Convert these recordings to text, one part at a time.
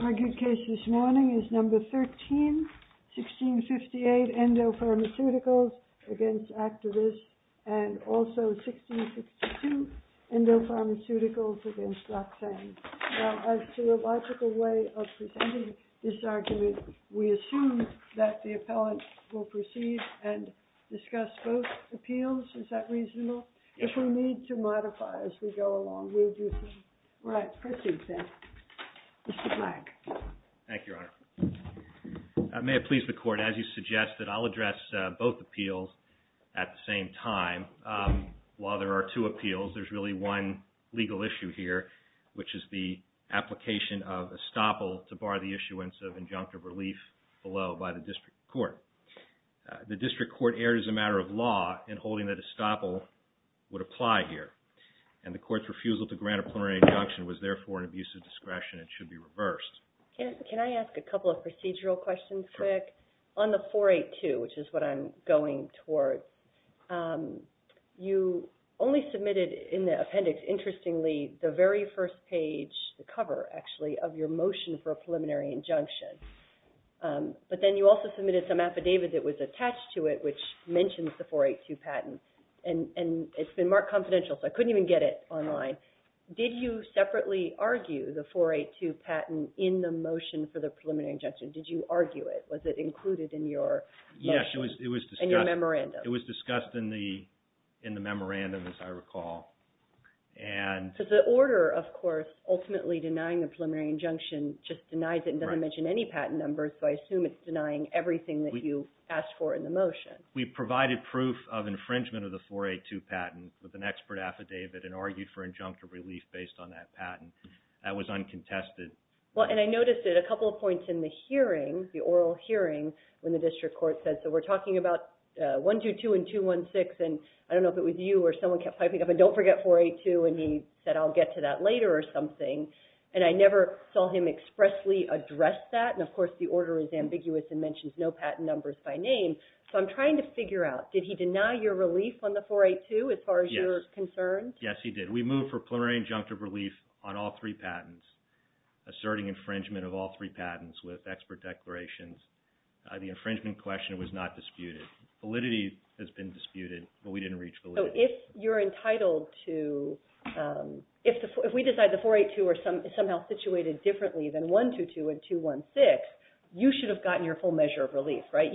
Our good case this morning is No. 13, 1658, Endo Pharmaceuticals v. Actavis, and also 1662, Endo Pharmaceuticals v. Laxang. Now, as to the logical way of presenting this argument, we assume that the appellant will proceed and discuss both appeals. Is that reasonable? If we need to modify as we go along, we'll do so. All right, proceed, then. Mr. Black. Thank you, Your Honor. May it please the Court, as you suggested, I'll address both appeals at the same time. While there are two appeals, there's really one legal issue here, which is the application of estoppel to bar the issuance of injunctive relief below by the district court. The district court erred as a matter of law in holding that estoppel would apply here, and the court's refusal to grant a preliminary injunction was therefore an abuse of discretion and should be reversed. Can I ask a couple of procedural questions, quick? Sure. On the 482, which is what I'm going towards, you only submitted in the appendix, interestingly, the very first page, the cover, actually, of your motion for a preliminary injunction. But then you also submitted some affidavit that was attached to it, which mentions the 482 patent, and it's been marked confidential, so I couldn't even get it online. Did you separately argue the 482 patent in the motion for the preliminary injunction? Did you argue it? Was it included in your motion? Yes, it was discussed. In your memorandum? It was discussed in the memorandum, as I recall. So the order, of course, ultimately denying the preliminary injunction just denies it and doesn't mention any patent numbers, so I assume it's denying everything that you asked for in the motion. We provided proof of infringement of the 482 patent with an expert affidavit and argued for injunctive relief based on that patent. That was uncontested. Well, and I noticed it a couple of points in the hearing, the oral hearing, when the district court said, so we're talking about 122 and 216, and I don't know if it was you or someone kept piping up, and don't forget 482, and he said I'll get to that later or something. And I never saw him expressly address that, and of course the order is ambiguous and mentions no patent numbers by name. So I'm trying to figure out, did he deny your relief on the 482 as far as you're concerned? Yes, he did. We moved for preliminary injunctive relief on all three patents, asserting infringement of all three patents with expert declarations. The infringement question was not disputed. Validity has been disputed, but we didn't reach validity. So if you're entitled to, if we decide the 482 is somehow situated differently than 122 and 216, you should have gotten your full measure of relief, right?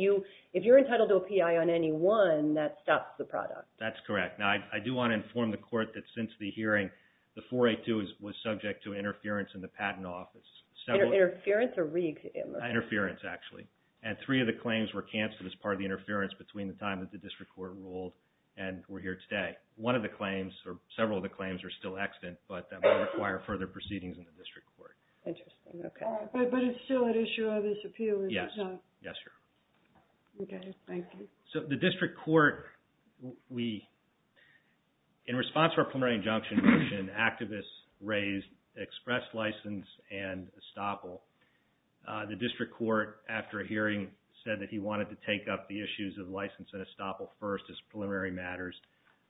If you're entitled to a P.I. on any one, that stops the product. That's correct. Now, I do want to inform the court that since the hearing, the 482 was subject to interference in the patent office. Interference or re-interference? Interference, actually. And three of the claims were canceled as part of the interference between the time that the district court ruled and we're here today. One of the claims, or several of the claims, are still extant, but that might require further proceedings in the district court. Interesting, okay. But it's still an issue of this appeal, is it not? Yes, Your Honor. Okay, thank you. So the district court, we, in response to our preliminary injunction motion, activists raised express license and estoppel. The district court, after a hearing, said that he wanted to take up the issues of license and estoppel first as preliminary matters.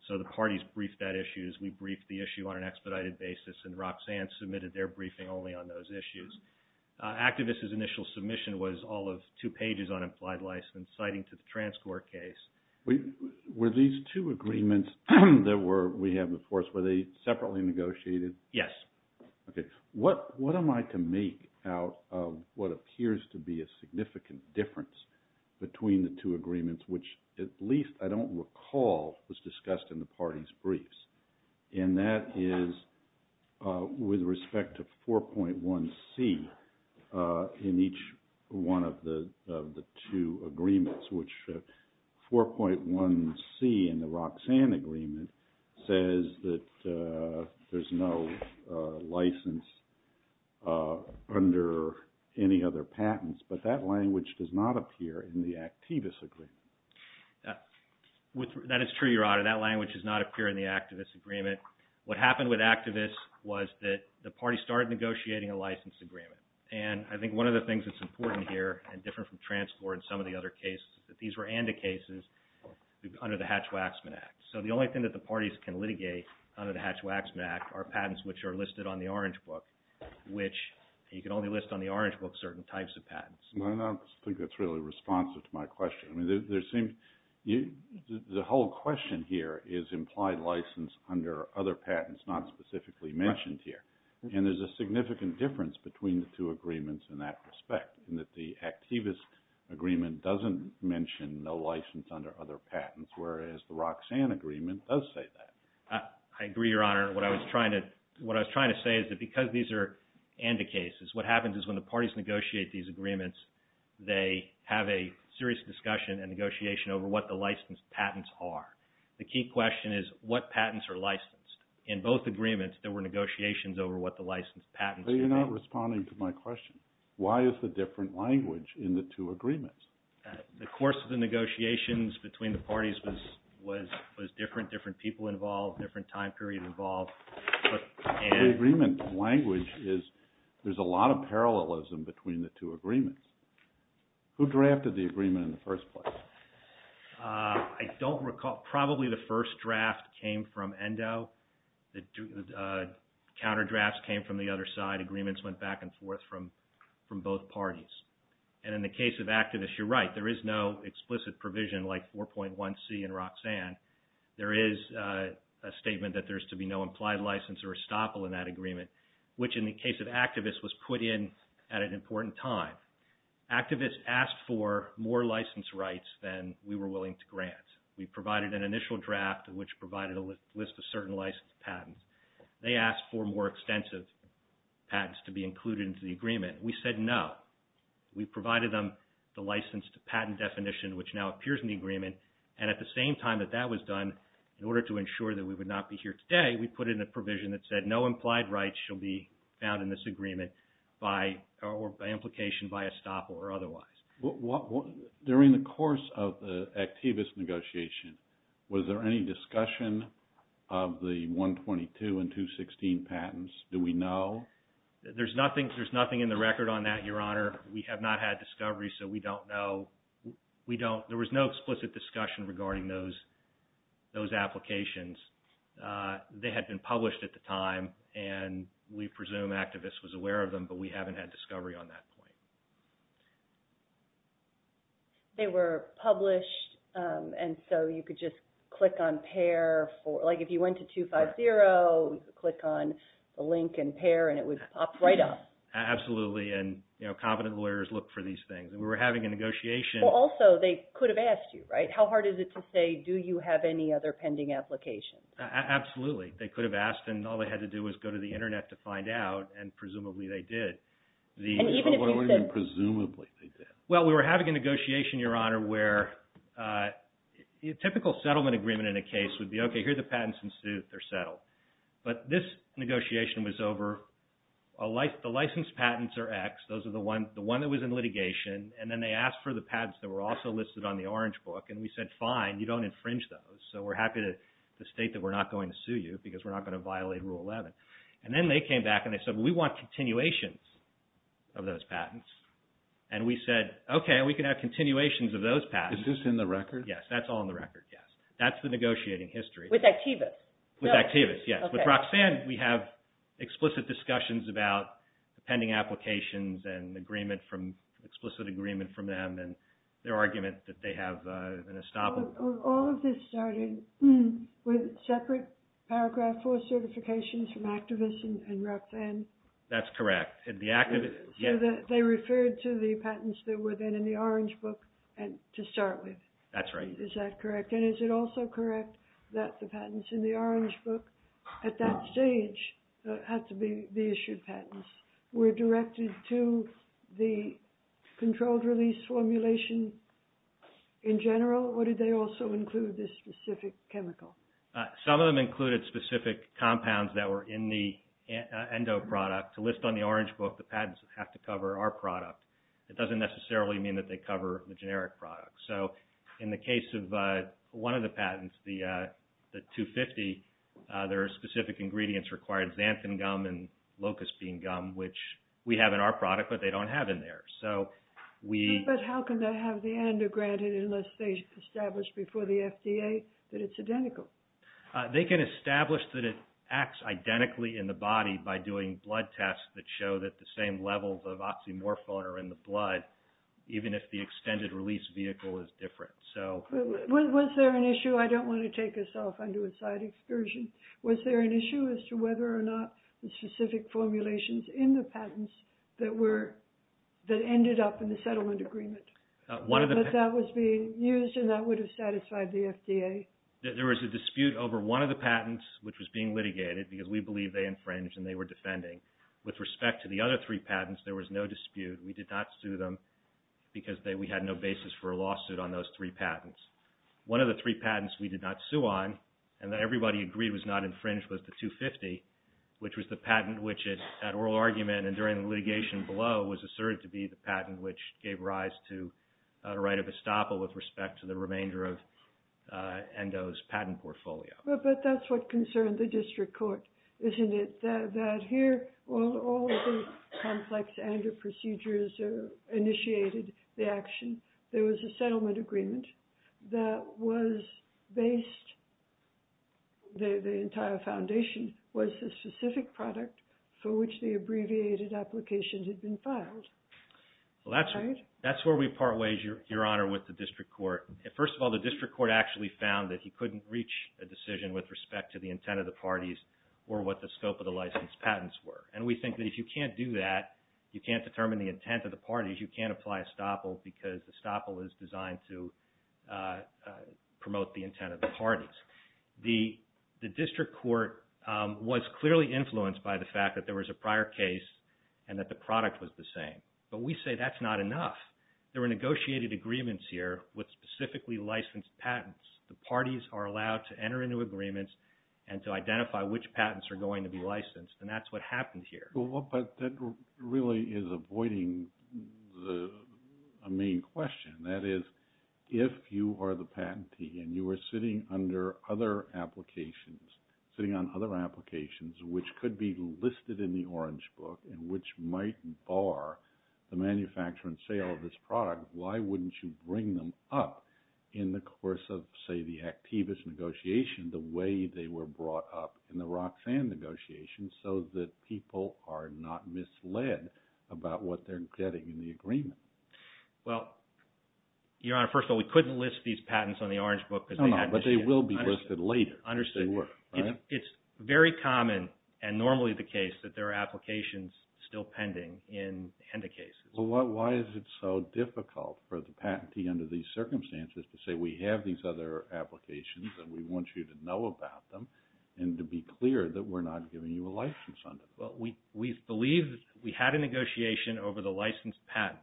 So the parties briefed that issue. We briefed the issue on an expedited basis, and Roxanne submitted their briefing only on those issues. Activists' initial submission was all of two pages on implied license, citing to the transcourt case. Were these two agreements that we had before us, were they separately negotiated? Yes. Okay. What am I to make out of what appears to be a significant difference between the two agreements, which at least I don't recall was discussed in the parties briefs, and that is with respect to 4.1c in each one of the two agreements, which 4.1c in the Roxanne agreement says that there's no license under any other patents, but that language does not appear in the activist agreement. That is true, Your Honor. That language does not appear in the activist agreement. What happened with activists was that the parties started negotiating a license agreement. And I think one of the things that's important here, and different from transcourt and some of the other cases, is that these were ANDA cases under the Hatch-Waxman Act. So the only thing that the parties can litigate under the Hatch-Waxman Act are patents which are listed on the Orange Book, which you can only list on the Orange Book certain types of patents. I don't think that's really responsive to my question. The whole question here is implied license under other patents, not specifically mentioned here. And there's a significant difference between the two agreements in that respect, in that the activist agreement doesn't mention no license under other patents, whereas the Roxanne agreement does say that. I agree, Your Honor. What I was trying to say is that because these are ANDA cases, what happens is when the parties negotiate these agreements, they have a serious discussion and negotiation over what the licensed patents are. The key question is what patents are licensed. In both agreements, there were negotiations over what the licensed patents were. But you're not responding to my question. Why is the different language in the two agreements? The course of the negotiations between the parties was different, different people involved, different time period involved. The agreement language is there's a lot of parallelism between the two agreements. Who drafted the agreement in the first place? I don't recall. Probably the first draft came from ENDO. The counter drafts came from the other side. Agreements went back and forth from both parties. And in the case of activists, you're right. There is no explicit provision like 4.1C in Roxanne. There is a statement that there's to be no implied license or estoppel in that agreement, which in the case of activists was put in at an important time. Activists asked for more licensed rights than we were willing to grant. We provided an initial draft, which provided a list of certain licensed patents. They asked for more extensive patents to be included into the agreement. We said no. We provided them the licensed patent definition, which now appears in the agreement. And at the same time that that was done, in order to ensure that we would not be here today, we put in a provision that said no implied rights shall be found in this agreement by implication by estoppel or otherwise. During the course of the activist negotiation, was there any discussion of the 122 and 216 patents? Do we know? There's nothing in the record on that, Your Honor. We have not had discovery, so we don't know. There was no explicit discussion regarding those applications. They had been published at the time, and we presume activists was aware of them, but we haven't had discovery on that point. They were published, and so you could just click on PAIR. If you went to 250, click on the link in PAIR, and it would pop right up. Absolutely, and competent lawyers look for these things. We were having a negotiation. Also, they could have asked you, right? How hard is it to say, do you have any other pending applications? Absolutely. They could have asked, and all they had to do was go to the Internet to find out, and presumably they did. Presumably they did. Well, we were having a negotiation, Your Honor, where a typical settlement agreement in a case would be, okay, here are the patents in suit. They're settled. But this negotiation was over. The licensed patents are X. Those are the one that was in litigation. And then they asked for the patents that were also listed on the orange book, and we said, fine, you don't infringe those, so we're happy to state that we're not going to sue you because we're not going to violate Rule 11. And then they came back and they said, well, we want continuations of those patents. And we said, okay, we can have continuations of those patents. Is this in the record? Yes, that's all in the record, yes. That's the negotiating history. With Activis? With Activis, yes. With Roxanne, we have explicit discussions about pending applications and explicit agreement from them and their argument that they have an estoppel. All of this started with separate Paragraph 4 certifications from Activis and Roxanne? That's correct. So they referred to the patents that were then in the orange book to start with? That's right. Is that correct? And is it also correct that the patents in the orange book at that stage, so it had to be the issued patents, were directed to the controlled release formulation in general, or did they also include this specific chemical? Some of them included specific compounds that were in the ENDO product. To list on the orange book the patents that have to cover our product, it doesn't necessarily mean that they cover the generic products. So in the case of one of the patents, the 250, there are specific ingredients required, xanthan gum and locust bean gum, which we have in our product but they don't have in theirs. But how can they have the ENDO granted unless they establish before the FDA that it's identical? They can establish that it acts identically in the body by doing blood tests that show that the same levels of oxymorphone are in the blood, even if the extended release vehicle is different. Was there an issue? I don't want to take us off onto a side excursion. Was there an issue as to whether or not the specific formulations in the patents that ended up in the settlement agreement, that that was being used and that would have satisfied the FDA? There was a dispute over one of the patents, which was being litigated, because we believe they infringed and they were defending. With respect to the other three patents, there was no dispute. We did not sue them because we had no basis for a lawsuit on those three patents. One of the three patents we did not sue on, and that everybody agreed was not infringed, was the 250, which was the patent which, at oral argument and during litigation below, was asserted to be the patent which gave rise to a right of estoppel with respect to the remainder of ENDO's patent portfolio. But that's what concerned the district court, isn't it? That here, all of the complex ENDO procedures initiated the action. There was a settlement agreement that was based, the entire foundation was the specific product for which the abbreviated applications had been filed. That's where we part ways, Your Honor, with the district court. First of all, the district court actually found that he couldn't reach a decision with respect to the intent of the parties or what the scope of the licensed patents were. And we think that if you can't do that, you can't determine the intent of the parties, you can't apply estoppel because estoppel is designed to promote the intent of the parties. The district court was clearly influenced by the fact that there was a prior case and that the product was the same. But we say that's not enough. There were negotiated agreements here with specifically licensed patents. The parties are allowed to enter into agreements and to identify which patents are going to be licensed, and that's what happened here. But that really is avoiding a main question. That is, if you are the patentee and you are sitting under other applications, sitting on other applications which could be listed in the Orange Book and which might bar the manufacture and sale of this product, why wouldn't you bring them up in the course of, say, the activist negotiation the way they were brought up in the Roxanne negotiation so that people are not misled about what they're getting in the agreement? Well, Your Honor, first of all, we couldn't list these patents on the Orange Book. No, no, but they will be listed later. Understood. They were, right? It's very common and normally the case that there are applications still pending in HENDA cases. Well, why is it so difficult for the patentee under these circumstances to say we have these other applications and we want you to know about them and to be clear that we're not giving you a license on them? Well, we believe we had a negotiation over the licensed patents.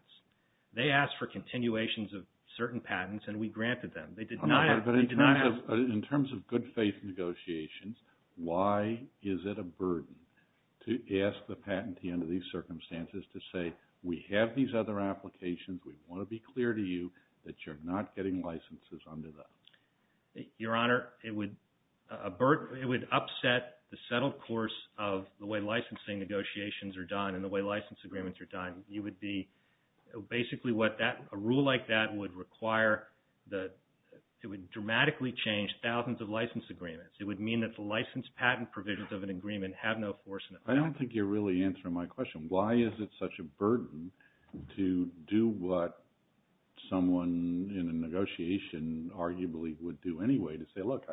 They asked for continuations of certain patents, and we granted them. But in terms of good faith negotiations, why is it a burden to ask the patentee under these circumstances to say we have these other applications, we want to be clear to you that you're not getting licenses under them? Your Honor, it would upset the settled course of the way licensing negotiations are done and the way license agreements are done. Basically, a rule like that would dramatically change thousands of license agreements. It would mean that the license patent provisions of an agreement have no force in it. I don't think you're really answering my question. Why is it such a burden to do what someone in a negotiation arguably would do anyway, to say, look,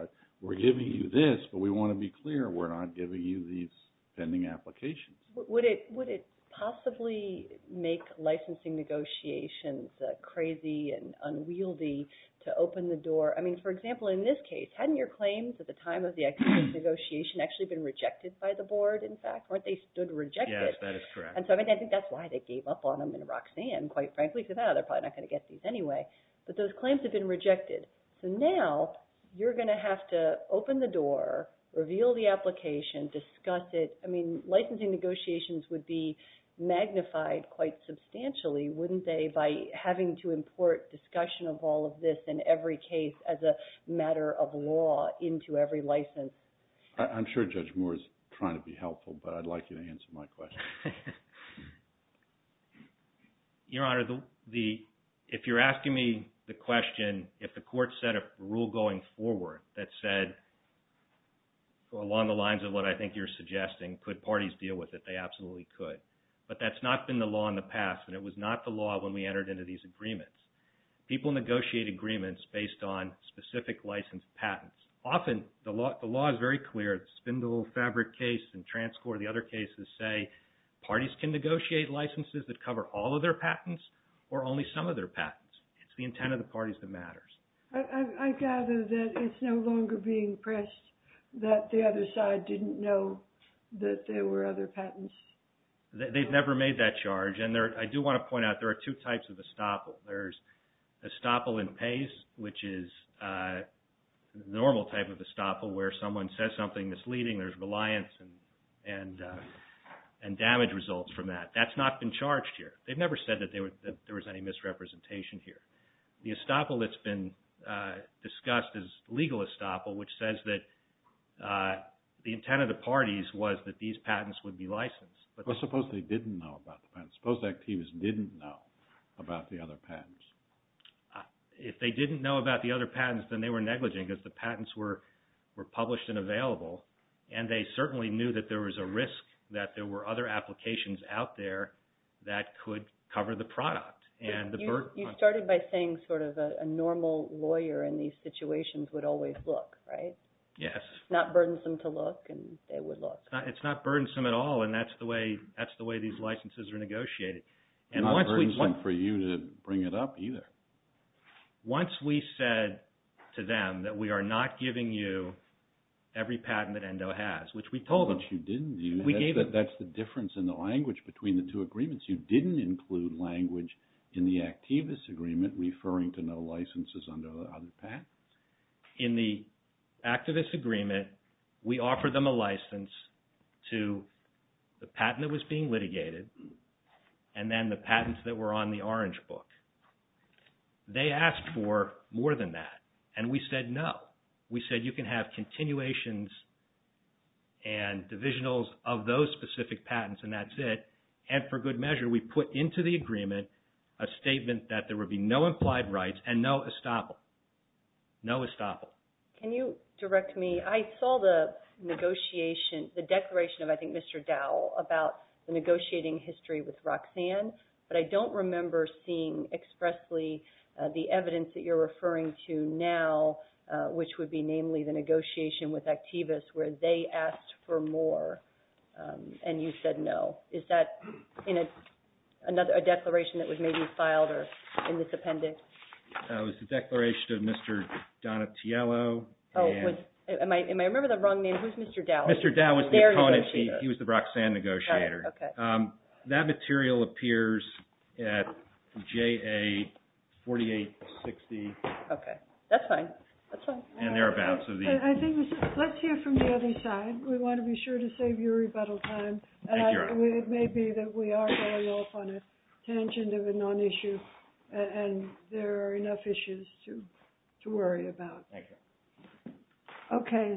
we're giving you this, but we want to be clear we're not giving you these pending applications? Would it possibly make licensing negotiations crazy and unwieldy to open the door? I mean, for example, in this case, hadn't your claims at the time of the actual negotiation actually been rejected by the board, in fact? Weren't they stood rejected? Yes, that is correct. And so I think that's why they gave up on them in Roxanne, quite frankly, because they're probably not going to get these anyway. But those claims have been rejected. So now you're going to have to open the door, reveal the application, discuss it. I mean, licensing negotiations would be magnified quite substantially, wouldn't they, by having to import discussion of all of this in every case as a matter of law into every license? I'm sure Judge Moore is trying to be helpful, but I'd like you to answer my question. Your Honor, if you're asking me the question, if the court set a rule going forward that said, along the lines of what I think you're suggesting, could parties deal with it, they absolutely could. But that's not been the law in the past, and it was not the law when we entered into these agreements. People negotiate agreements based on specific license patents. Often the law is very clear. The Spindle Fabric case and Transcor, the other cases say parties can negotiate licenses that cover all of their patents or only some of their patents. It's the intent of the parties that matters. I gather that it's no longer being pressed that the other side didn't know that there were other patents. They've never made that charge, and I do want to point out there are two types of estoppel. There's estoppel in pace, which is the normal type of estoppel where someone says something misleading. There's reliance and damage results from that. That's not been charged here. They've never said that there was any misrepresentation here. The estoppel that's been discussed is legal estoppel, which says that the intent of the parties was that these patents would be licensed. Suppose they didn't know about the patents. Suppose the actives didn't know about the other patents. If they didn't know about the other patents, then they were negligent because the patents were published and available, and they certainly knew that there was a risk that there were other applications out there that could cover the product. You started by saying sort of a normal lawyer in these situations would always look, right? Yes. It's not burdensome to look, and they would look. It's not burdensome at all, and that's the way these licenses are negotiated. It's not burdensome for you to bring it up either. Once we said to them that we are not giving you every patent that ENDO has, which we told them. Which you didn't do. That's the difference in the language between the two agreements. You didn't include language in the activists' agreement referring to no licenses under the patent. In the activists' agreement, we offered them a license to the patent that was being litigated and then the patents that were on the orange book. They asked for more than that, and we said no. We said you can have continuations and divisionals of those specific patents, and that's it. And for good measure, we put into the agreement a statement that there would be no implied rights and no estoppel. No estoppel. Can you direct me? I saw the declaration of, I think, Mr. Dowell about the negotiating history with Roxanne, but I don't remember seeing expressly the evidence that you're referring to now, which would be namely the negotiation with activists where they asked for more and you said no. Is that in a declaration that was maybe filed or in this appendix? It was the declaration of Mr. Donatiello. Am I remembering the wrong name? Who's Mr. Dowell? Mr. Dowell was the opponent. He was the Roxanne negotiator. That material appears at JA 4860. Okay. That's fine. And thereabouts. Let's hear from the other side. We want to be sure to save your rebuttal time. Thank you, Your Honor. It may be that we are going off on a tangent of a non-issue and there are enough issues to worry about. Thank you.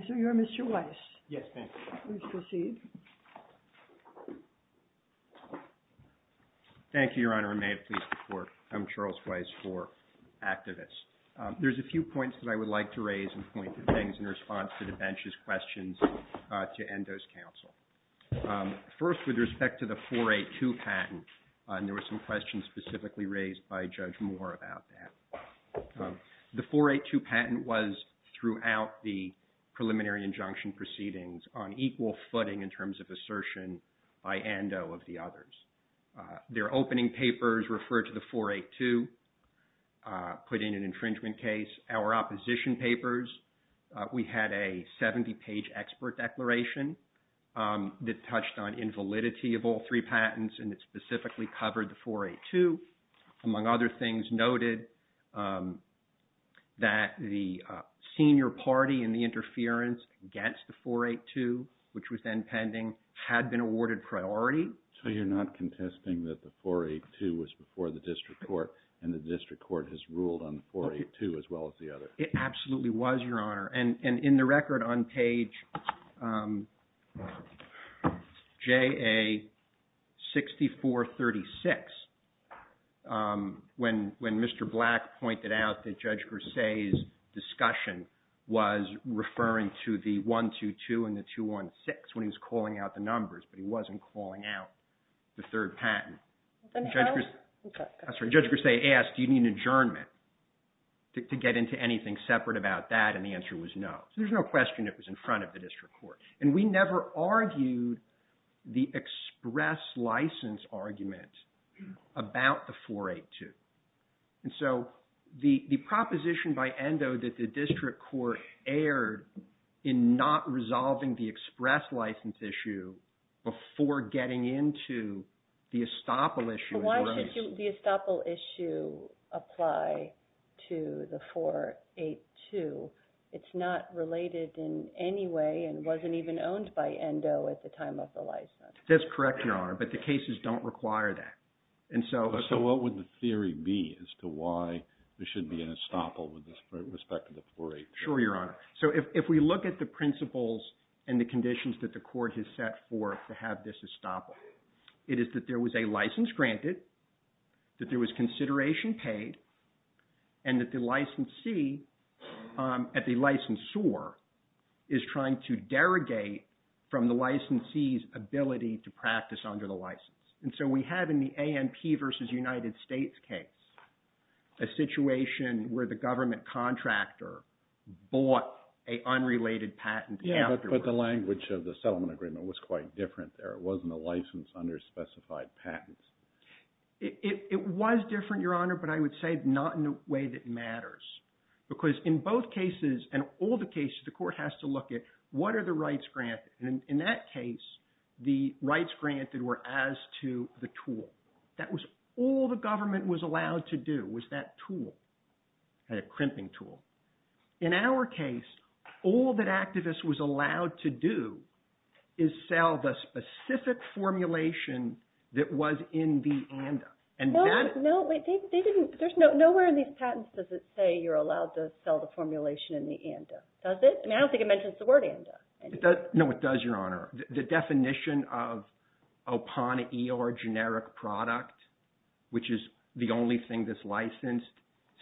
So you're Mr. Weiss. Yes, thank you. Please proceed. Thank you, Your Honor. I'm Charles Weiss for activists. There's a few points that I would like to raise and point to things in response to the bench's questions to Ando's counsel. First, with respect to the 482 patent, and there were some questions specifically raised by Judge Moore about that. The 482 patent was throughout the preliminary injunction proceedings on equal footing in terms of assertion by Ando of the others. Their opening papers referred to the 482, put in an infringement case. Our opposition papers, we had a 70-page expert declaration that touched on invalidity of all three patents and it specifically covered the 482. Among other things, noted that the senior party in the interference against the 482, which was then pending, had been awarded priority. So you're not contesting that the 482 was before the district court and the district court has ruled on the 482 as well as the other? It absolutely was, Your Honor. And in the record on page JA-6436, when Mr. Black pointed out that Judge Gersay's discussion was referring to the 122 and the 216 when he was calling out the numbers, but he wasn't calling out the third patent. Judge Gersay asked, do you need an adjournment to get into anything separate about that, and the answer was no. So there's no question it was in front of the district court. And we never argued the express license argument about the 482. And so the proposition by Endo that the district court erred in not resolving the express license issue before getting into the estoppel issue. Why should the estoppel issue apply to the 482? It's not related in any way and wasn't even owned by Endo at the time of the license. That's correct, Your Honor, but the cases don't require that. So what would the theory be as to why there shouldn't be an estoppel with respect to the 482? Sure, Your Honor. So if we look at the principles and the conditions that the court has set forth to have this estoppel, it is that there was a license granted, that there was consideration paid, and that the licensee at the licensor is trying to derogate from the licensee's ability to practice under the license. And so we have in the ANP versus United States case a situation where the government contractor bought an unrelated patent afterwards. Yeah, but the language of the settlement agreement was quite different there. It wasn't a license under specified patents. It was different, Your Honor, but I would say not in a way that matters. Because in both cases and all the cases, the court has to look at what are the rights granted. And in that case, the rights granted were as to the tool. That was all the government was allowed to do was that tool, that crimping tool. In our case, all that activists was allowed to do is sell the specific formulation that was in the ANDA. No, wait. Nowhere in these patents does it say you're allowed to sell the formulation in the ANDA. Does it? I don't think it mentions the word ANDA. No, it does, Your Honor. The definition of a PAN-ER generic product, which is the only thing that's licensed,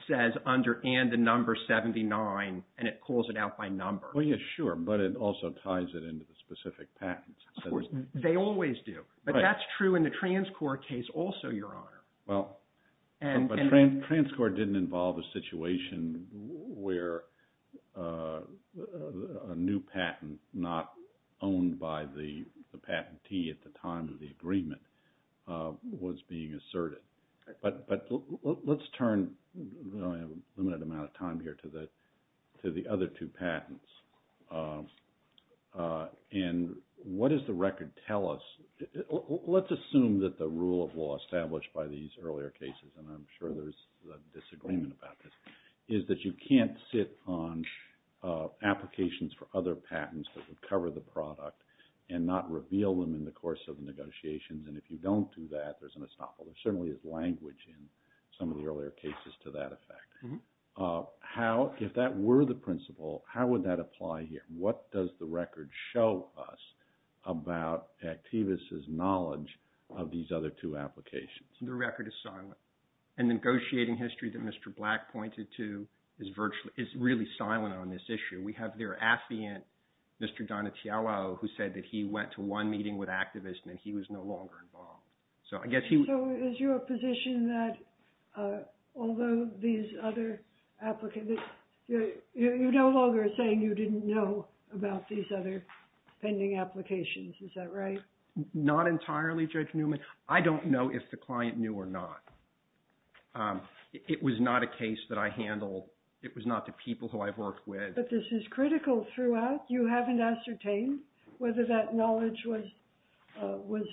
says under ANDA number 79, and it calls it out by number. Well, yeah, sure, but it also ties it into the specific patents. Of course, they always do. But that's true in the TransCorp case also, Your Honor. Well, but TransCorp didn't involve a situation where a new patent not owned by the patentee at the time of the agreement was being asserted. But let's turn a limited amount of time here to the other two patents. And what does the record tell us? Let's assume that the rule of law established by these earlier cases, and I'm sure there's a disagreement about this, is that you can't sit on applications for other patents that would cover the product and not reveal them in the course of negotiations. And if you don't do that, there's an estoppel. There certainly is language in some of the earlier cases to that effect. If that were the principle, how would that apply here? What does the record show us about Activis' knowledge of these other two applications? The record is silent. And negotiating history that Mr. Black pointed to is really silent on this issue. We have their affiant, Mr. Donatello, who said that he went to one meeting with Activis and that he was no longer involved. So is your position that although these other applicants, you're no longer saying you didn't know about these other pending applications? Is that right? Not entirely, Judge Newman. I don't know if the client knew or not. It was not a case that I handled. It was not the people who I've worked with. But this is critical throughout. You haven't ascertained whether that knowledge was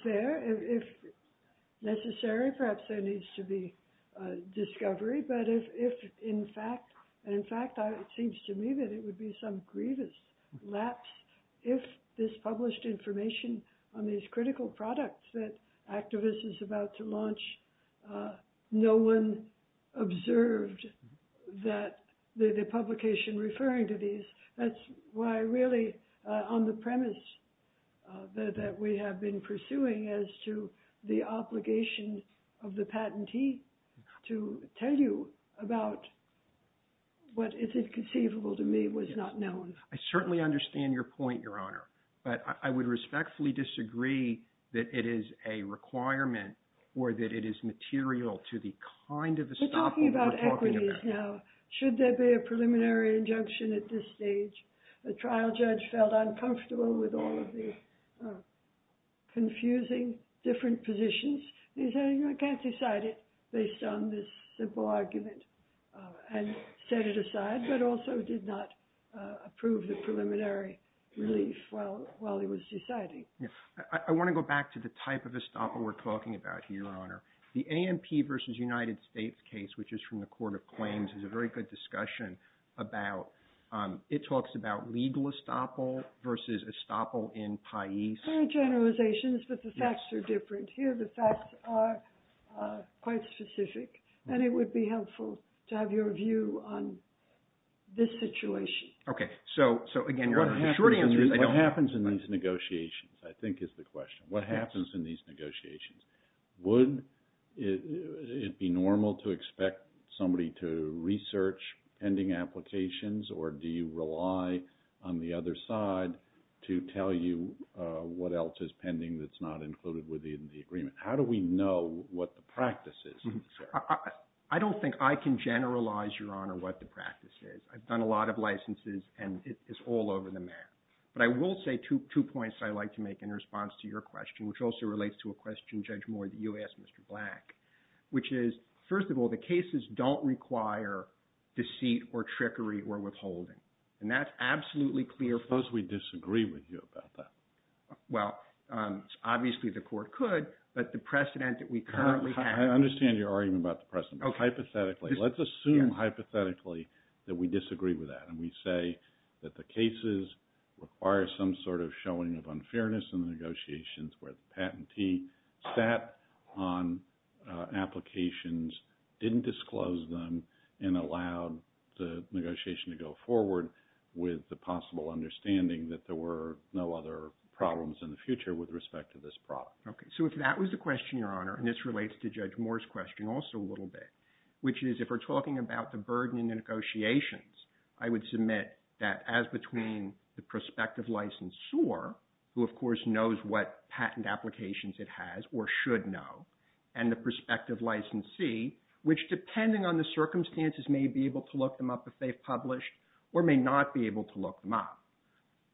there. If necessary, perhaps there needs to be discovery. But if, in fact, it seems to me that it would be some grievous lapse if this published information on these critical products that Activis is about to launch, no one observed the publication referring to these. That's why, really, on the premise that we have been pursuing as to the obligation of the patentee to tell you about what is conceivable to me was not known. I certainly understand your point, Your Honor. But I would respectfully disagree that it is a requirement or that it is material to the kind of estoppel we're talking about. We're talking about equities now. Should there be a preliminary injunction at this stage? The trial judge felt uncomfortable with all of the confusing different positions. He said, you know, I can't decide it based on this simple argument and set it aside, but also did not approve the preliminary relief while he was deciding. I want to go back to the type of estoppel we're talking about here, Your Honor. The ANP versus United States case, which is from the Court of Claims, is a very good discussion. It talks about legal estoppel versus estoppel in Pais. Very generalizations, but the facts are different. Here the facts are quite specific, and it would be helpful to have your view on this situation. Okay. So, again, your short answer is I don't know. What happens in these negotiations, I think, is the question. What happens in these negotiations? Would it be normal to expect somebody to research pending applications, or do you rely on the other side to tell you what else is pending that's not included within the agreement? How do we know what the practice is? I don't think I can generalize, Your Honor, what the practice is. I've done a lot of licenses, and it's all over the map. But I will say two points I'd like to make in response to your question, which also relates to a question, Judge Moore, that you asked Mr. Black, which is, first of all, the cases don't require deceit or trickery or withholding. And that's absolutely clear. Suppose we disagree with you about that. Well, obviously the court could, but the precedent that we currently have… I understand your argument about the precedent, but hypothetically, let's assume hypothetically that we disagree with that. And we say that the cases require some sort of showing of unfairness in the negotiations where the patentee sat on applications, didn't disclose them, and allowed the negotiation to go forward with the possible understanding that there were no other problems in the future with respect to this product. So if that was the question, Your Honor, and this relates to Judge Moore's question also a little bit, which is if we're talking about the burden in the negotiations, I would submit that as between the prospective licensure, who of course knows what patent applications it has or should know, and the prospective licensee, which depending on the circumstances may be able to look them up if they've published or may not be able to look them up.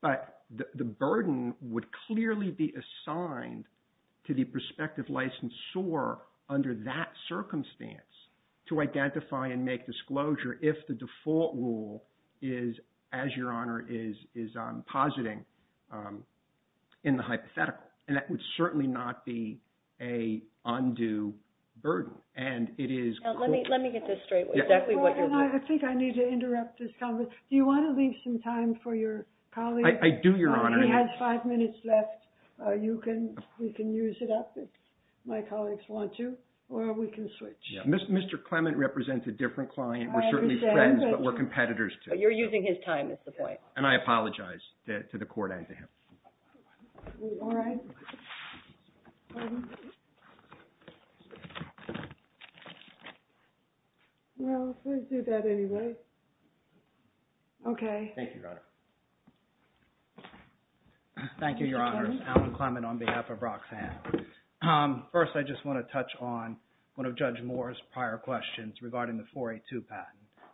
But the burden would clearly be assigned to the prospective licensure under that circumstance to identify and make disclosure if the default rule is, as Your Honor is positing, in the hypothetical. And that would certainly not be an undue burden. And it is… Let me get this straight. I think I need to interrupt this conversation. Do you want to leave some time for your colleague? I do, Your Honor. He has five minutes left. You can use it up if my colleagues want to, or we can switch. Mr. Clement represents a different client. We're certainly friends, but we're competitors. But you're using his time is the point. And I apologize to the court and to him. All right. Pardon? Well, if I do that anyway. Okay. Thank you, Your Honor. Thank you, Your Honors. Allen Clement on behalf of Roxanne. First, I just want to touch on one of Judge Moore's prior questions regarding the 482 patent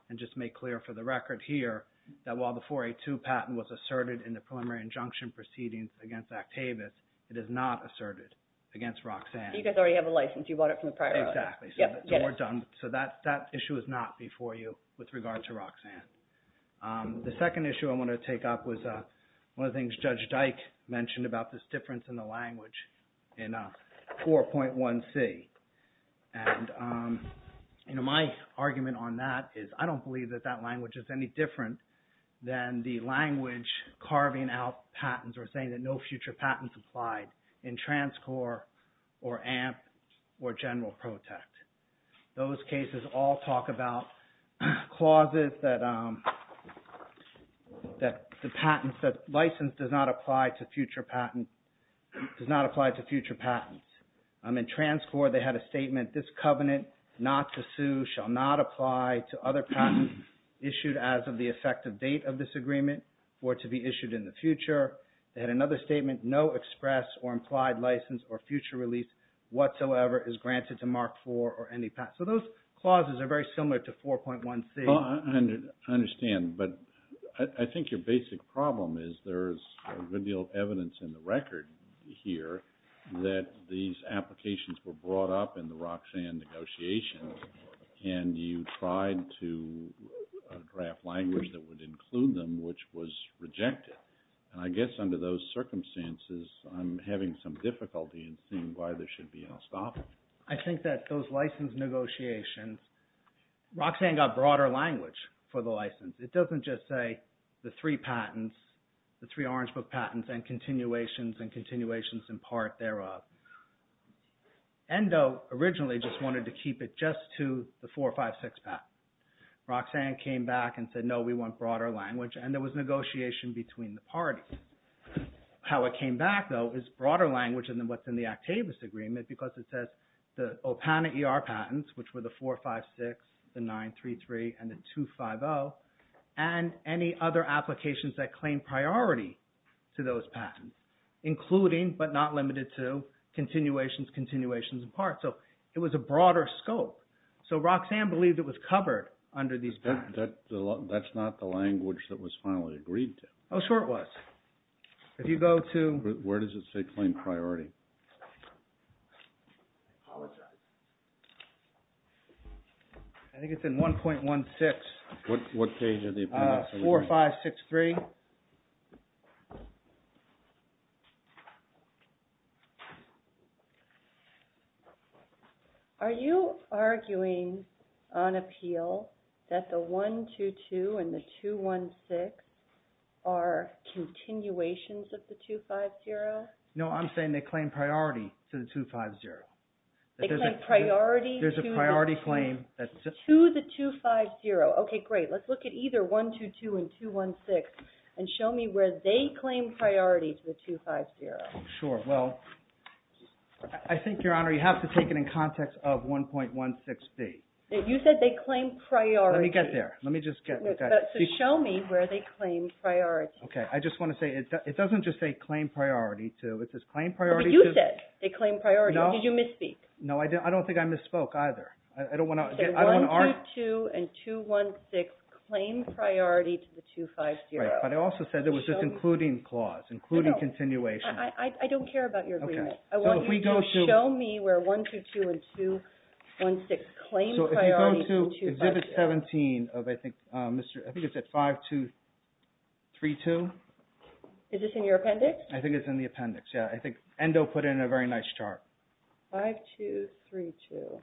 and just make clear for the record here that while the 482 patent was asserted in the preliminary injunction proceedings against Actavis, it is not asserted against Roxanne. You guys already have a license. You bought it from the prior owner. Exactly. So we're done. So that issue is not before you with regard to Roxanne. The second issue I want to take up was one of the things Judge Dyke mentioned about this difference in the language in 4.1c. And my argument on that is I don't believe that that language is any different than the language carving out patents or saying that no future patents applied in TransCore or AMP or General Protect. Those cases all talk about clauses that license does not apply to future patents. In TransCore, they had a statement, this covenant not to sue shall not apply to other patents issued as of the effective date of this agreement or to be issued in the future. They had another statement, no express or implied license or future release whatsoever is granted to Mark IV or any patent. So those clauses are very similar to 4.1c. I understand. But I think your basic problem is there's a good deal of evidence in the record here that these applications were brought up in the Roxanne negotiations and you tried to draft language that would include them, which was rejected. And I guess under those circumstances, I'm having some difficulty in seeing why there should be no stopping. I think that those license negotiations, Roxanne got broader language for the license. It doesn't just say the three patents, the three Orange Book patents and continuations and continuations in part thereof. ENDO originally just wanted to keep it just to the 456 patent. Roxanne came back and said, no, we want broader language. And there was negotiation between the parties. How it came back, though, is broader language than what's in the Actavis Agreement because it says the OPANA ER patents, which were the 456, the 933, and the 250, and any other applications that claim priority to those patents, including but not limited to continuations, continuations in part. So it was a broader scope. So Roxanne believed it was covered under these patents. That's not the language that was finally agreed to. Oh, sure it was. If you go to... Where does it say claim priority? I think it's in 1.16. What page are the... 4563. Are you arguing on appeal that the 122 and the 216 are continuations of the 250? No, I'm saying they claim priority to the 250. They claim priority to the... There's a priority claim that's... To the 250. Okay, great. Let's look at either 122 and 216 and show me where they claim priority to the 250. Sure. Well, I think, Your Honor, you have to take it in context of 1.16b. You said they claim priority. Let me get there. Let me just get... So show me where they claim priority. Okay, I just want to say it doesn't just say claim priority to. It says claim priority to... But you said they claim priority. No. Did you misspeak? No, I don't think I misspoke either. I don't want to... Show me where 122 and 216 claim priority to the 250. Right, but I also said there was this including clause, including continuation. I don't care about your agreement. Okay, so if we go to... I want you to show me where 122 and 216 claim priority to the 250. So if you go to Exhibit 17 of, I think, Mr... I think it's at 5232. Is this in your appendix? I think it's in the appendix, yeah. I think Endo put it in a very nice chart. 5232.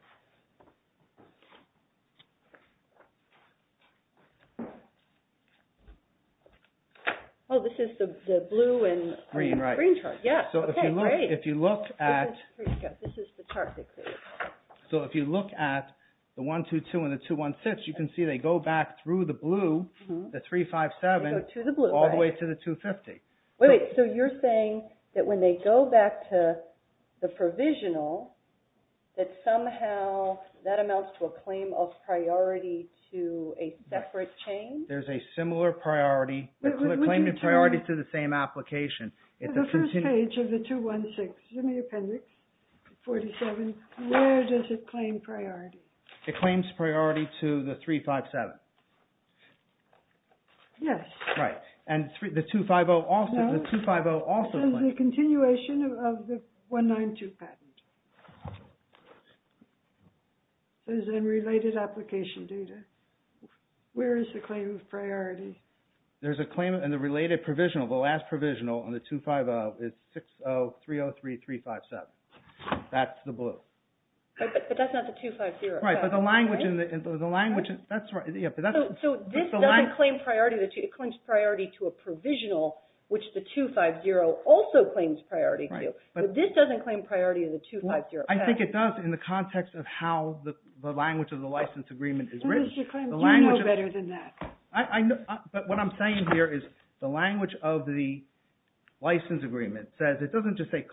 Oh, this is the blue and green chart. Green, right. Yeah. Okay, great. So if you look at... This is the chart they created. So if you look at the 122 and the 216, you can see they go back through the blue, the 357, all the way to the 250. Wait, wait. So you're saying that when they go back to the provisional, that somehow that amounts to a claim of priority to a separate chain? There's a similar priority. They claim the priority to the same application. The first page of the 216 is in the appendix, 47. Where does it claim priority? It claims priority to the 357. Yes. Right. And the 250 also... No. The 250 also claims... It says the continuation of the 192 patent. So it's in related application data. Where is the claim of priority? There's a claim in the related provisional. The last provisional on the 250 is 60303357. That's the blue. But that's not the 250. Right. But the language in the... So this doesn't claim priority. It claims priority to a provisional, which the 250 also claims priority to. But this doesn't claim priority to the 250. I think it does in the context of how the language of the license agreement is written. You know better than that. But what I'm saying here is the language of the license agreement says it doesn't just say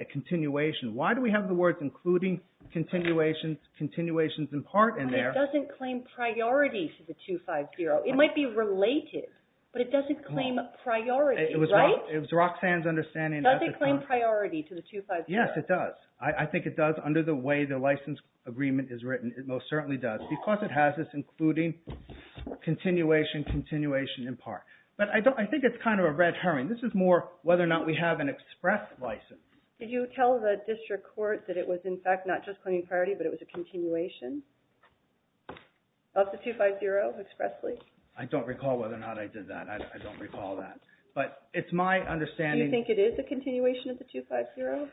a continuation. Why do we have the words including, continuations, continuations in part in there? It doesn't claim priority to the 250. It might be related, but it doesn't claim priority, right? It was Roxanne's understanding. Does it claim priority to the 250? Yes, it does. I think it does under the way the license agreement is written. It most certainly does because it has this including continuation, continuation in part. But I think it's kind of a red herring. This is more whether or not we have an express license. Did you tell the district court that it was in fact not just claiming priority, but it was a continuation of the 250 expressly? I don't recall whether or not I did that. I don't recall that. But it's my understanding. Do you think it is a continuation of the 250?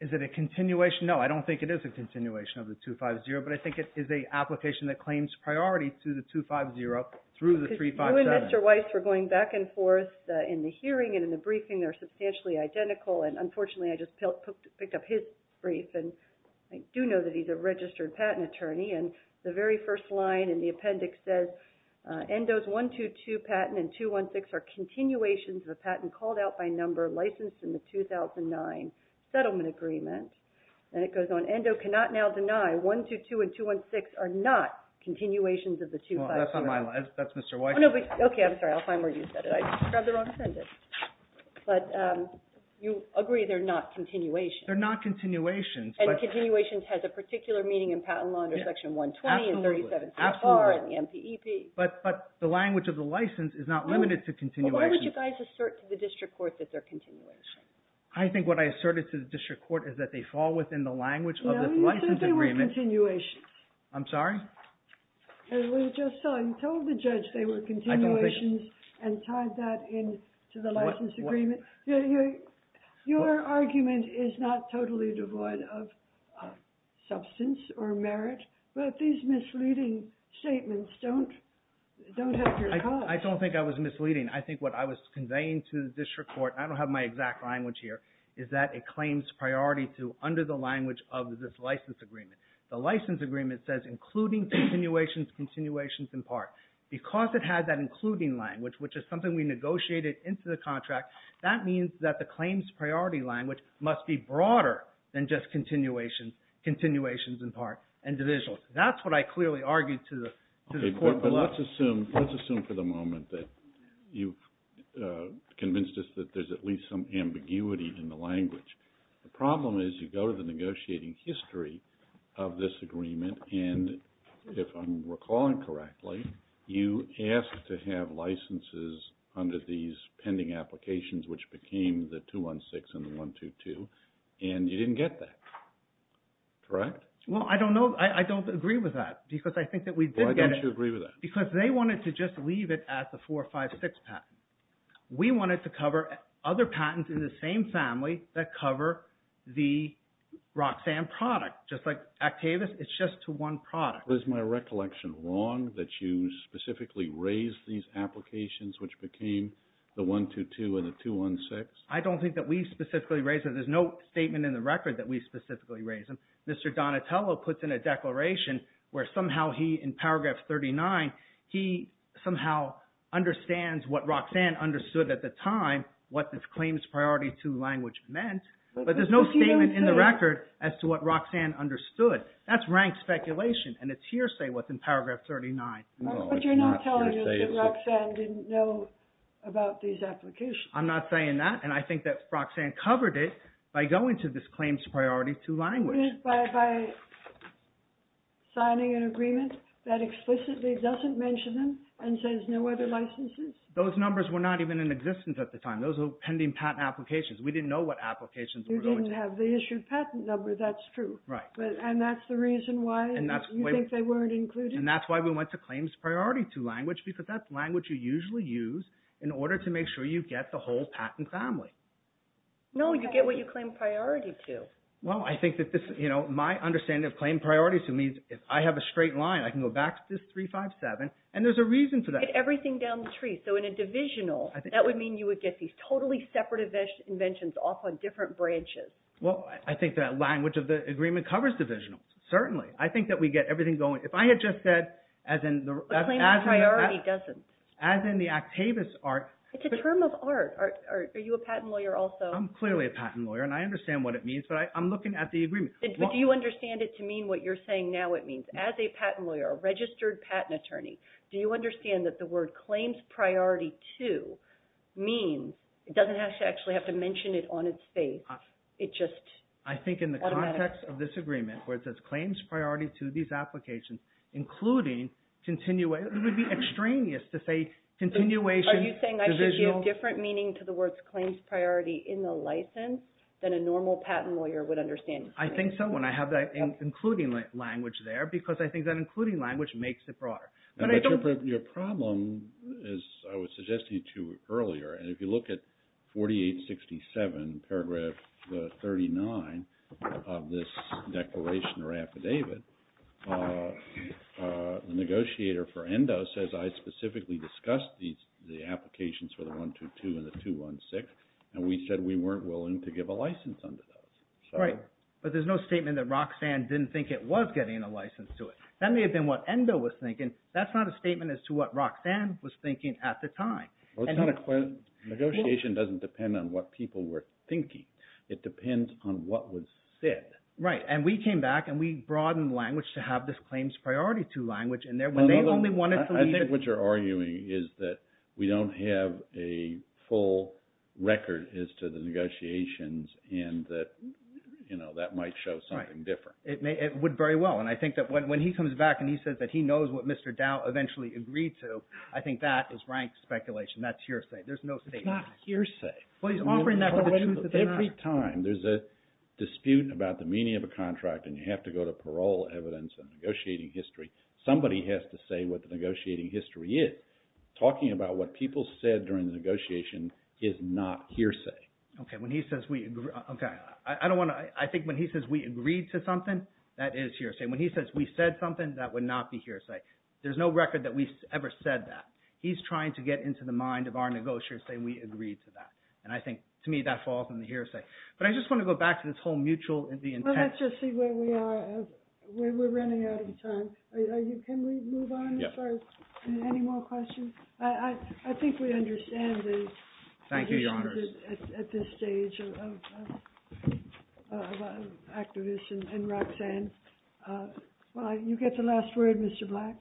Is it a continuation? No, I don't think it is a continuation of the 250. But I think it is an application that claims priority to the 250 through the 357. You and Mr. Weiss were going back and forth in the hearing and in the briefing. They're substantially identical. And unfortunately, I just picked up his brief. And I do know that he's a registered patent attorney. And the very first line in the appendix says, Endo's 122 patent and 216 are continuations of a patent called out by number licensed in the 2009 settlement agreement. And it goes on, Endo cannot now deny 122 and 216 are not continuations of the 250. Well, that's on my line. That's Mr. Weiss's. Okay, I'm sorry. I'll find where you said it. I just grabbed the wrong sentence. But you agree they're not continuations. They're not continuations. And continuations has a particular meaning in patent law under Section 120 and 376R and the MPEP. But the language of the license is not limited to continuations. What would you guys assert to the district court that they're continuations? I think what I asserted to the district court is that they fall within the language of the license agreement. No, you said they were continuations. I'm sorry? As we just saw, you told the judge they were continuations and tied that in to the license agreement. Your argument is not totally devoid of substance or merit. But these misleading statements don't have your cause. I don't think I was misleading. I think what I was conveying to the district court, and I don't have my exact language here, is that it claims priority to under the language of this license agreement. The license agreement says including continuations, continuations in part. Because it has that including language, which is something we negotiated into the contract, that means that the claims priority language must be broader than just continuations in part and divisional. That's what I clearly argued to the court. Okay, but let's assume for the moment that you've convinced us that there's at least some ambiguity in the language. The problem is you go to the negotiating history of this agreement, and if I'm recalling correctly, you asked to have licenses under these pending applications, which became the 216 and the 122, and you didn't get that. Correct? Well, I don't know. I don't agree with that because I think that we did get it. Why don't you agree with that? Because they wanted to just leave it at the 456 patent. We wanted to cover other patents in the same family that cover the Roxanne product. Just like Actavis, it's just to one product. Was my recollection wrong that you specifically raised these applications, which became the 122 and the 216? I don't think that we specifically raised them. There's no statement in the record that we specifically raised them. Mr. Donatello puts in a declaration where somehow he, in paragraph 39, he somehow understands what Roxanne understood at the time, what this claims priority two language meant, but there's no statement in the record as to what Roxanne understood. That's rank speculation, and it's hearsay what's in paragraph 39. But you're not telling us that Roxanne didn't know about these applications. I'm not saying that, and I think that Roxanne covered it by going to this claims priority two language. By signing an agreement that explicitly doesn't mention them and says no other licenses? Those numbers were not even in existence at the time. Those were pending patent applications. We didn't know what applications were going to be issued. You didn't have the issued patent number. That's true. Right. And that's the reason why you think they weren't included? And that's why we went to claims priority two language, because that's language you usually use in order to make sure you get the whole patent family. No, you get what you claim priority to. Well, I think that my understanding of claim priority two means if I have a straight line, I can go back to this 357, and there's a reason for that. You get everything down the tree. So in a divisional, that would mean you would get these totally separate inventions off on different branches. Well, I think that language of the agreement covers divisionals. Certainly. I think that we get everything going. If I had just said, as in the… But claim priority doesn't. As in the Actavis art… It's a term of art. Are you a patent lawyer also? I'm clearly a patent lawyer, and I understand what it means, but I'm looking at the agreement. But do you understand it to mean what you're saying now it means? As a patent lawyer, a registered patent attorney, do you understand that the word claims priority two means… It doesn't actually have to mention it on its face. It just… I think in the context of this agreement, where it says claims priority to these applications, including… It would be extraneous to say continuation… Are you saying I should give different meaning to the words claims priority in the license than a normal patent lawyer would understand? I think so, and I have that including language there because I think that including language makes it broader. But I don't… But your problem, as I was suggesting to you earlier, and if you look at 4867, paragraph 39 of this declaration or affidavit, the negotiator for ENDO says I specifically discussed the applications for the 122 and the 216, and we said we weren't willing to give a license under those. Right, but there's no statement that Roxanne didn't think it was getting a license to it. That may have been what ENDO was thinking. That's not a statement as to what Roxanne was thinking at the time. Negotiation doesn't depend on what people were thinking. It depends on what was said. Right, and we came back, and we broadened language to have this claims priority two language in there when they only wanted to… I think what you're arguing is that we don't have a full record as to the negotiations and that might show something different. It would very well, and I think that when he comes back and he says that he knows what Mr. Dow eventually agreed to, I think that is rank speculation. That's hearsay. There's no statement. It's not hearsay. Well, he's offering that for the truth of the matter. Every time there's a dispute about the meaning of a contract and you have to go to parole evidence and negotiating history, somebody has to say what the negotiating history is. Talking about what people said during the negotiation is not hearsay. Okay, when he says we – okay, I don't want to – I think when he says we agreed to something, that is hearsay. When he says we said something, that would not be hearsay. There's no record that we ever said that. He's trying to get into the mind of our negotiators saying we agreed to that. And I think, to me, that falls on the hearsay. But I just want to go back to this whole mutual – the intent. Well, let's just see where we are. We're running out of time. Can we move on? Any more questions? I think we understand the – Thank you, Your Honor. – at this stage of activists and Roxanne. Well, you get the last word, Mr. Black.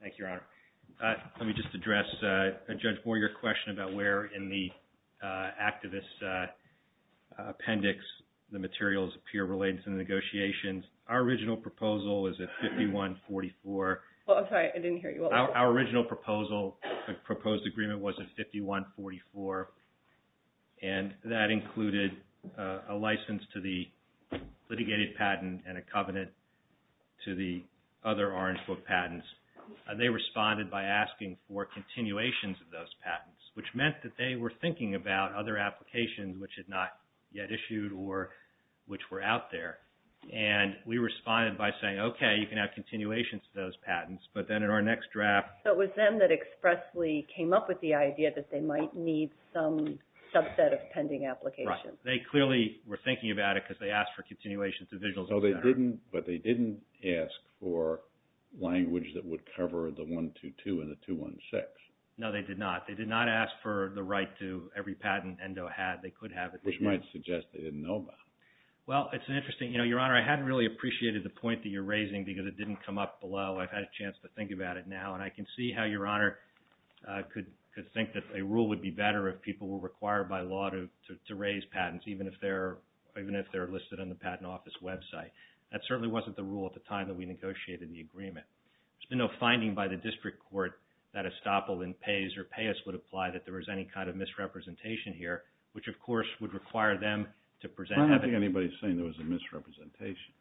Thank you, Your Honor. Let me just address, Judge Moore, your question about where in the activist appendix the materials appear related to the negotiations. Our original proposal is at 5144. Well, I'm sorry, I didn't hear you. Our original proposal, proposed agreement, was at 5144, and that included a license to the litigated patent and a covenant to the other Orange Book patents. They responded by asking for continuations of those patents, which meant that they were thinking about other applications which had not yet issued or which were out there. And we responded by saying, okay, you can have continuations of those patents. But then in our next draft – So it was them that expressly came up with the idea that they might need some subset of pending applications. Right. They clearly were thinking about it because they asked for continuations of visuals. But they didn't ask for language that would cover the 122 and the 216. No, they did not. They did not ask for the right to every patent ENDO had. They could have if they did. Which might suggest they didn't know about it. Well, it's interesting. Your Honor, I hadn't really appreciated the point that you're raising because it didn't come up below. I've had a chance to think about it now, and I can see how Your Honor could think that a rule would be better if people were required by law to raise patents, even if they're listed on the Patent Office website. That certainly wasn't the rule at the time that we negotiated the agreement. There's been no finding by the district court that estoppel in pays or payas would apply that there was any kind of misrepresentation here, which of course would require them to present evidence. I don't think anybody's saying there was a misrepresentation.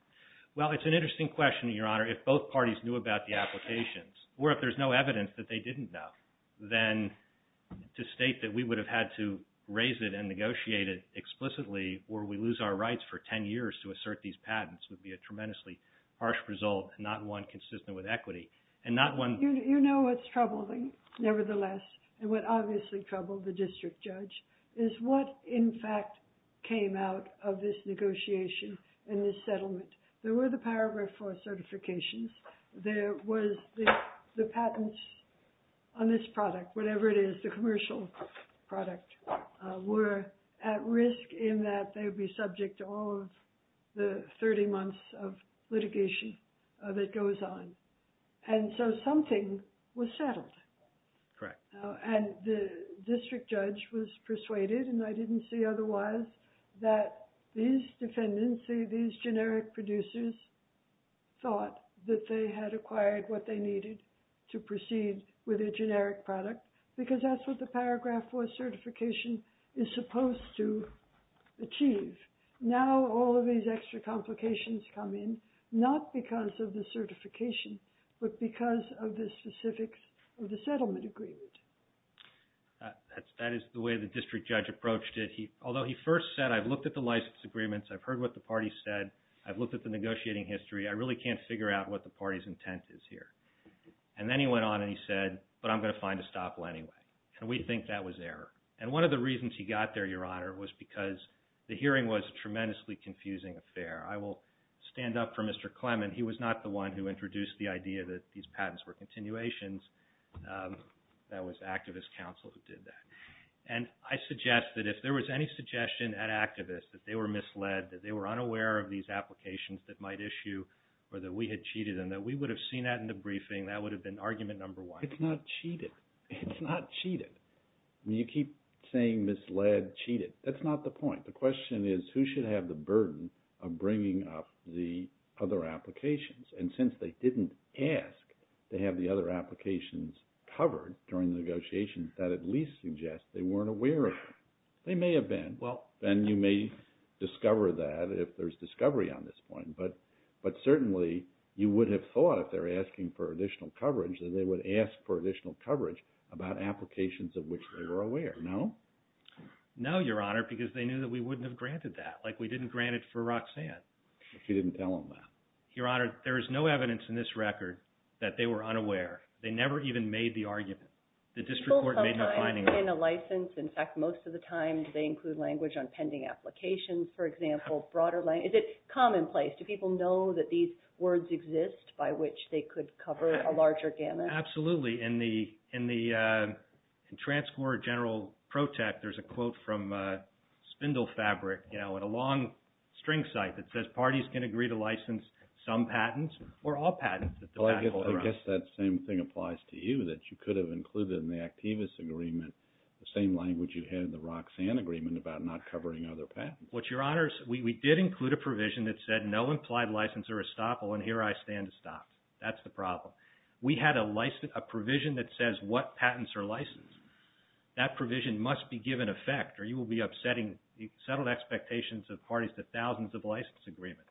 Well, it's an interesting question, Your Honor. If both parties knew about the applications, or if there's no evidence that they didn't know, then to state that we would have had to raise it and negotiate it explicitly, or we lose our rights for 10 years to assert these patents, would be a tremendously harsh result and not one consistent with equity. You know what's troubling, nevertheless, and what obviously troubled the district judge, is what, in fact, came out of this negotiation and this settlement. There were the paragraph 4 certifications. There was the patents on this product, whatever it is, the commercial product, were at risk in that they would be subject to all of the 30 months of litigation that goes on. And so something was settled. Correct. And the district judge was persuaded, and I didn't see otherwise, that these defendants, I didn't see these generic producers thought that they had acquired what they needed to proceed with a generic product, because that's what the paragraph 4 certification is supposed to achieve. Now all of these extra complications come in, not because of the certification, but because of the specifics of the settlement agreement. That is the way the district judge approached it. Although he first said, I've looked at the license agreements, I've heard what the party said, I've looked at the negotiating history, I really can't figure out what the party's intent is here. And then he went on and he said, but I'm going to find a stop anyway. And we think that was error. And one of the reasons he got there, Your Honor, was because the hearing was a tremendously confusing affair. I will stand up for Mr. Clement. He was not the one who introduced the idea that these patents were continuations. That was activist counsel who did that. And I suggest that if there was any suggestion at activists that they were misled, that they were unaware of these applications that might issue or that we had cheated and that we would have seen that in the briefing, that would have been argument number one. It's not cheated. It's not cheated. You keep saying misled, cheated. That's not the point. The question is who should have the burden of bringing up the other applications. And since they didn't ask to have the other applications covered during the negotiations, that at least suggests they weren't aware of them. They may have been, and you may discover that if there's discovery on this point. But certainly you would have thought if they were asking for additional coverage that they would ask for additional coverage about applications of which they were aware. No? No, Your Honor, because they knew that we wouldn't have granted that. Like we didn't grant it for Roxanne. You didn't tell them that. Your Honor, there is no evidence in this record that they were unaware. They never even made the argument. The district court made the finding. In a license, in fact, most of the time, do they include language on pending applications, for example? Is it commonplace? Do people know that these words exist by which they could cover a larger gamut? Absolutely. In the Transcore General Pro-Tech, there's a quote from Spindle Fabric, you know, at a long string site that says, parties can agree to license some patents or all patents. I guess that same thing applies to you, that you could have included in the Activis agreement the same language you had in the Roxanne agreement about not covering other patents. Your Honors, we did include a provision that said no implied license or estoppel, and here I stand to stop. That's the problem. We had a provision that says what patents are licensed. That provision must be given effect, or you will be upsetting the settled expectations of parties to thousands of license agreements.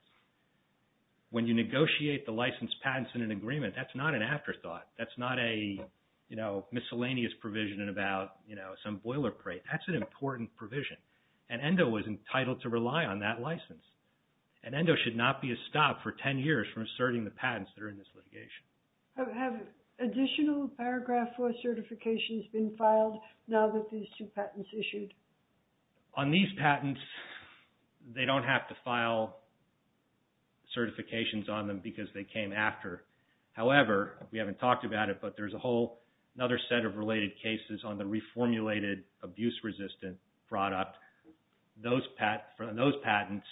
When you negotiate the license patents in an agreement, that's not an afterthought. That's not a, you know, miscellaneous provision about, you know, some boilerplate. That's an important provision, and ENDO was entitled to rely on that license, and ENDO should not be a stop for 10 years from asserting the patents that are in this litigation. Have additional Paragraph 4 certifications been filed now that these two patents issued? On these patents, they don't have to file certifications on them because they came after. However, we haven't talked about it, but there's a whole other set of related cases on the reformulated abuse-resistant product. Those patents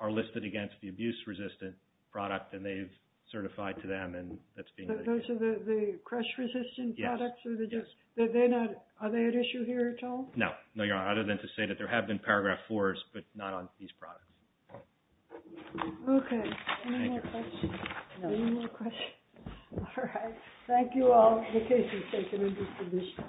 are listed against the abuse-resistant product, and they've certified to them, and that's being listed. Those are the crush-resistant products? Yes. Are they at issue here at all? No. No, Your Honor, other than to say that there have been Paragraph 4s, but not on these products. Okay. Any more questions? No. Any more questions? All right. Thank you all. The case is taken into submission.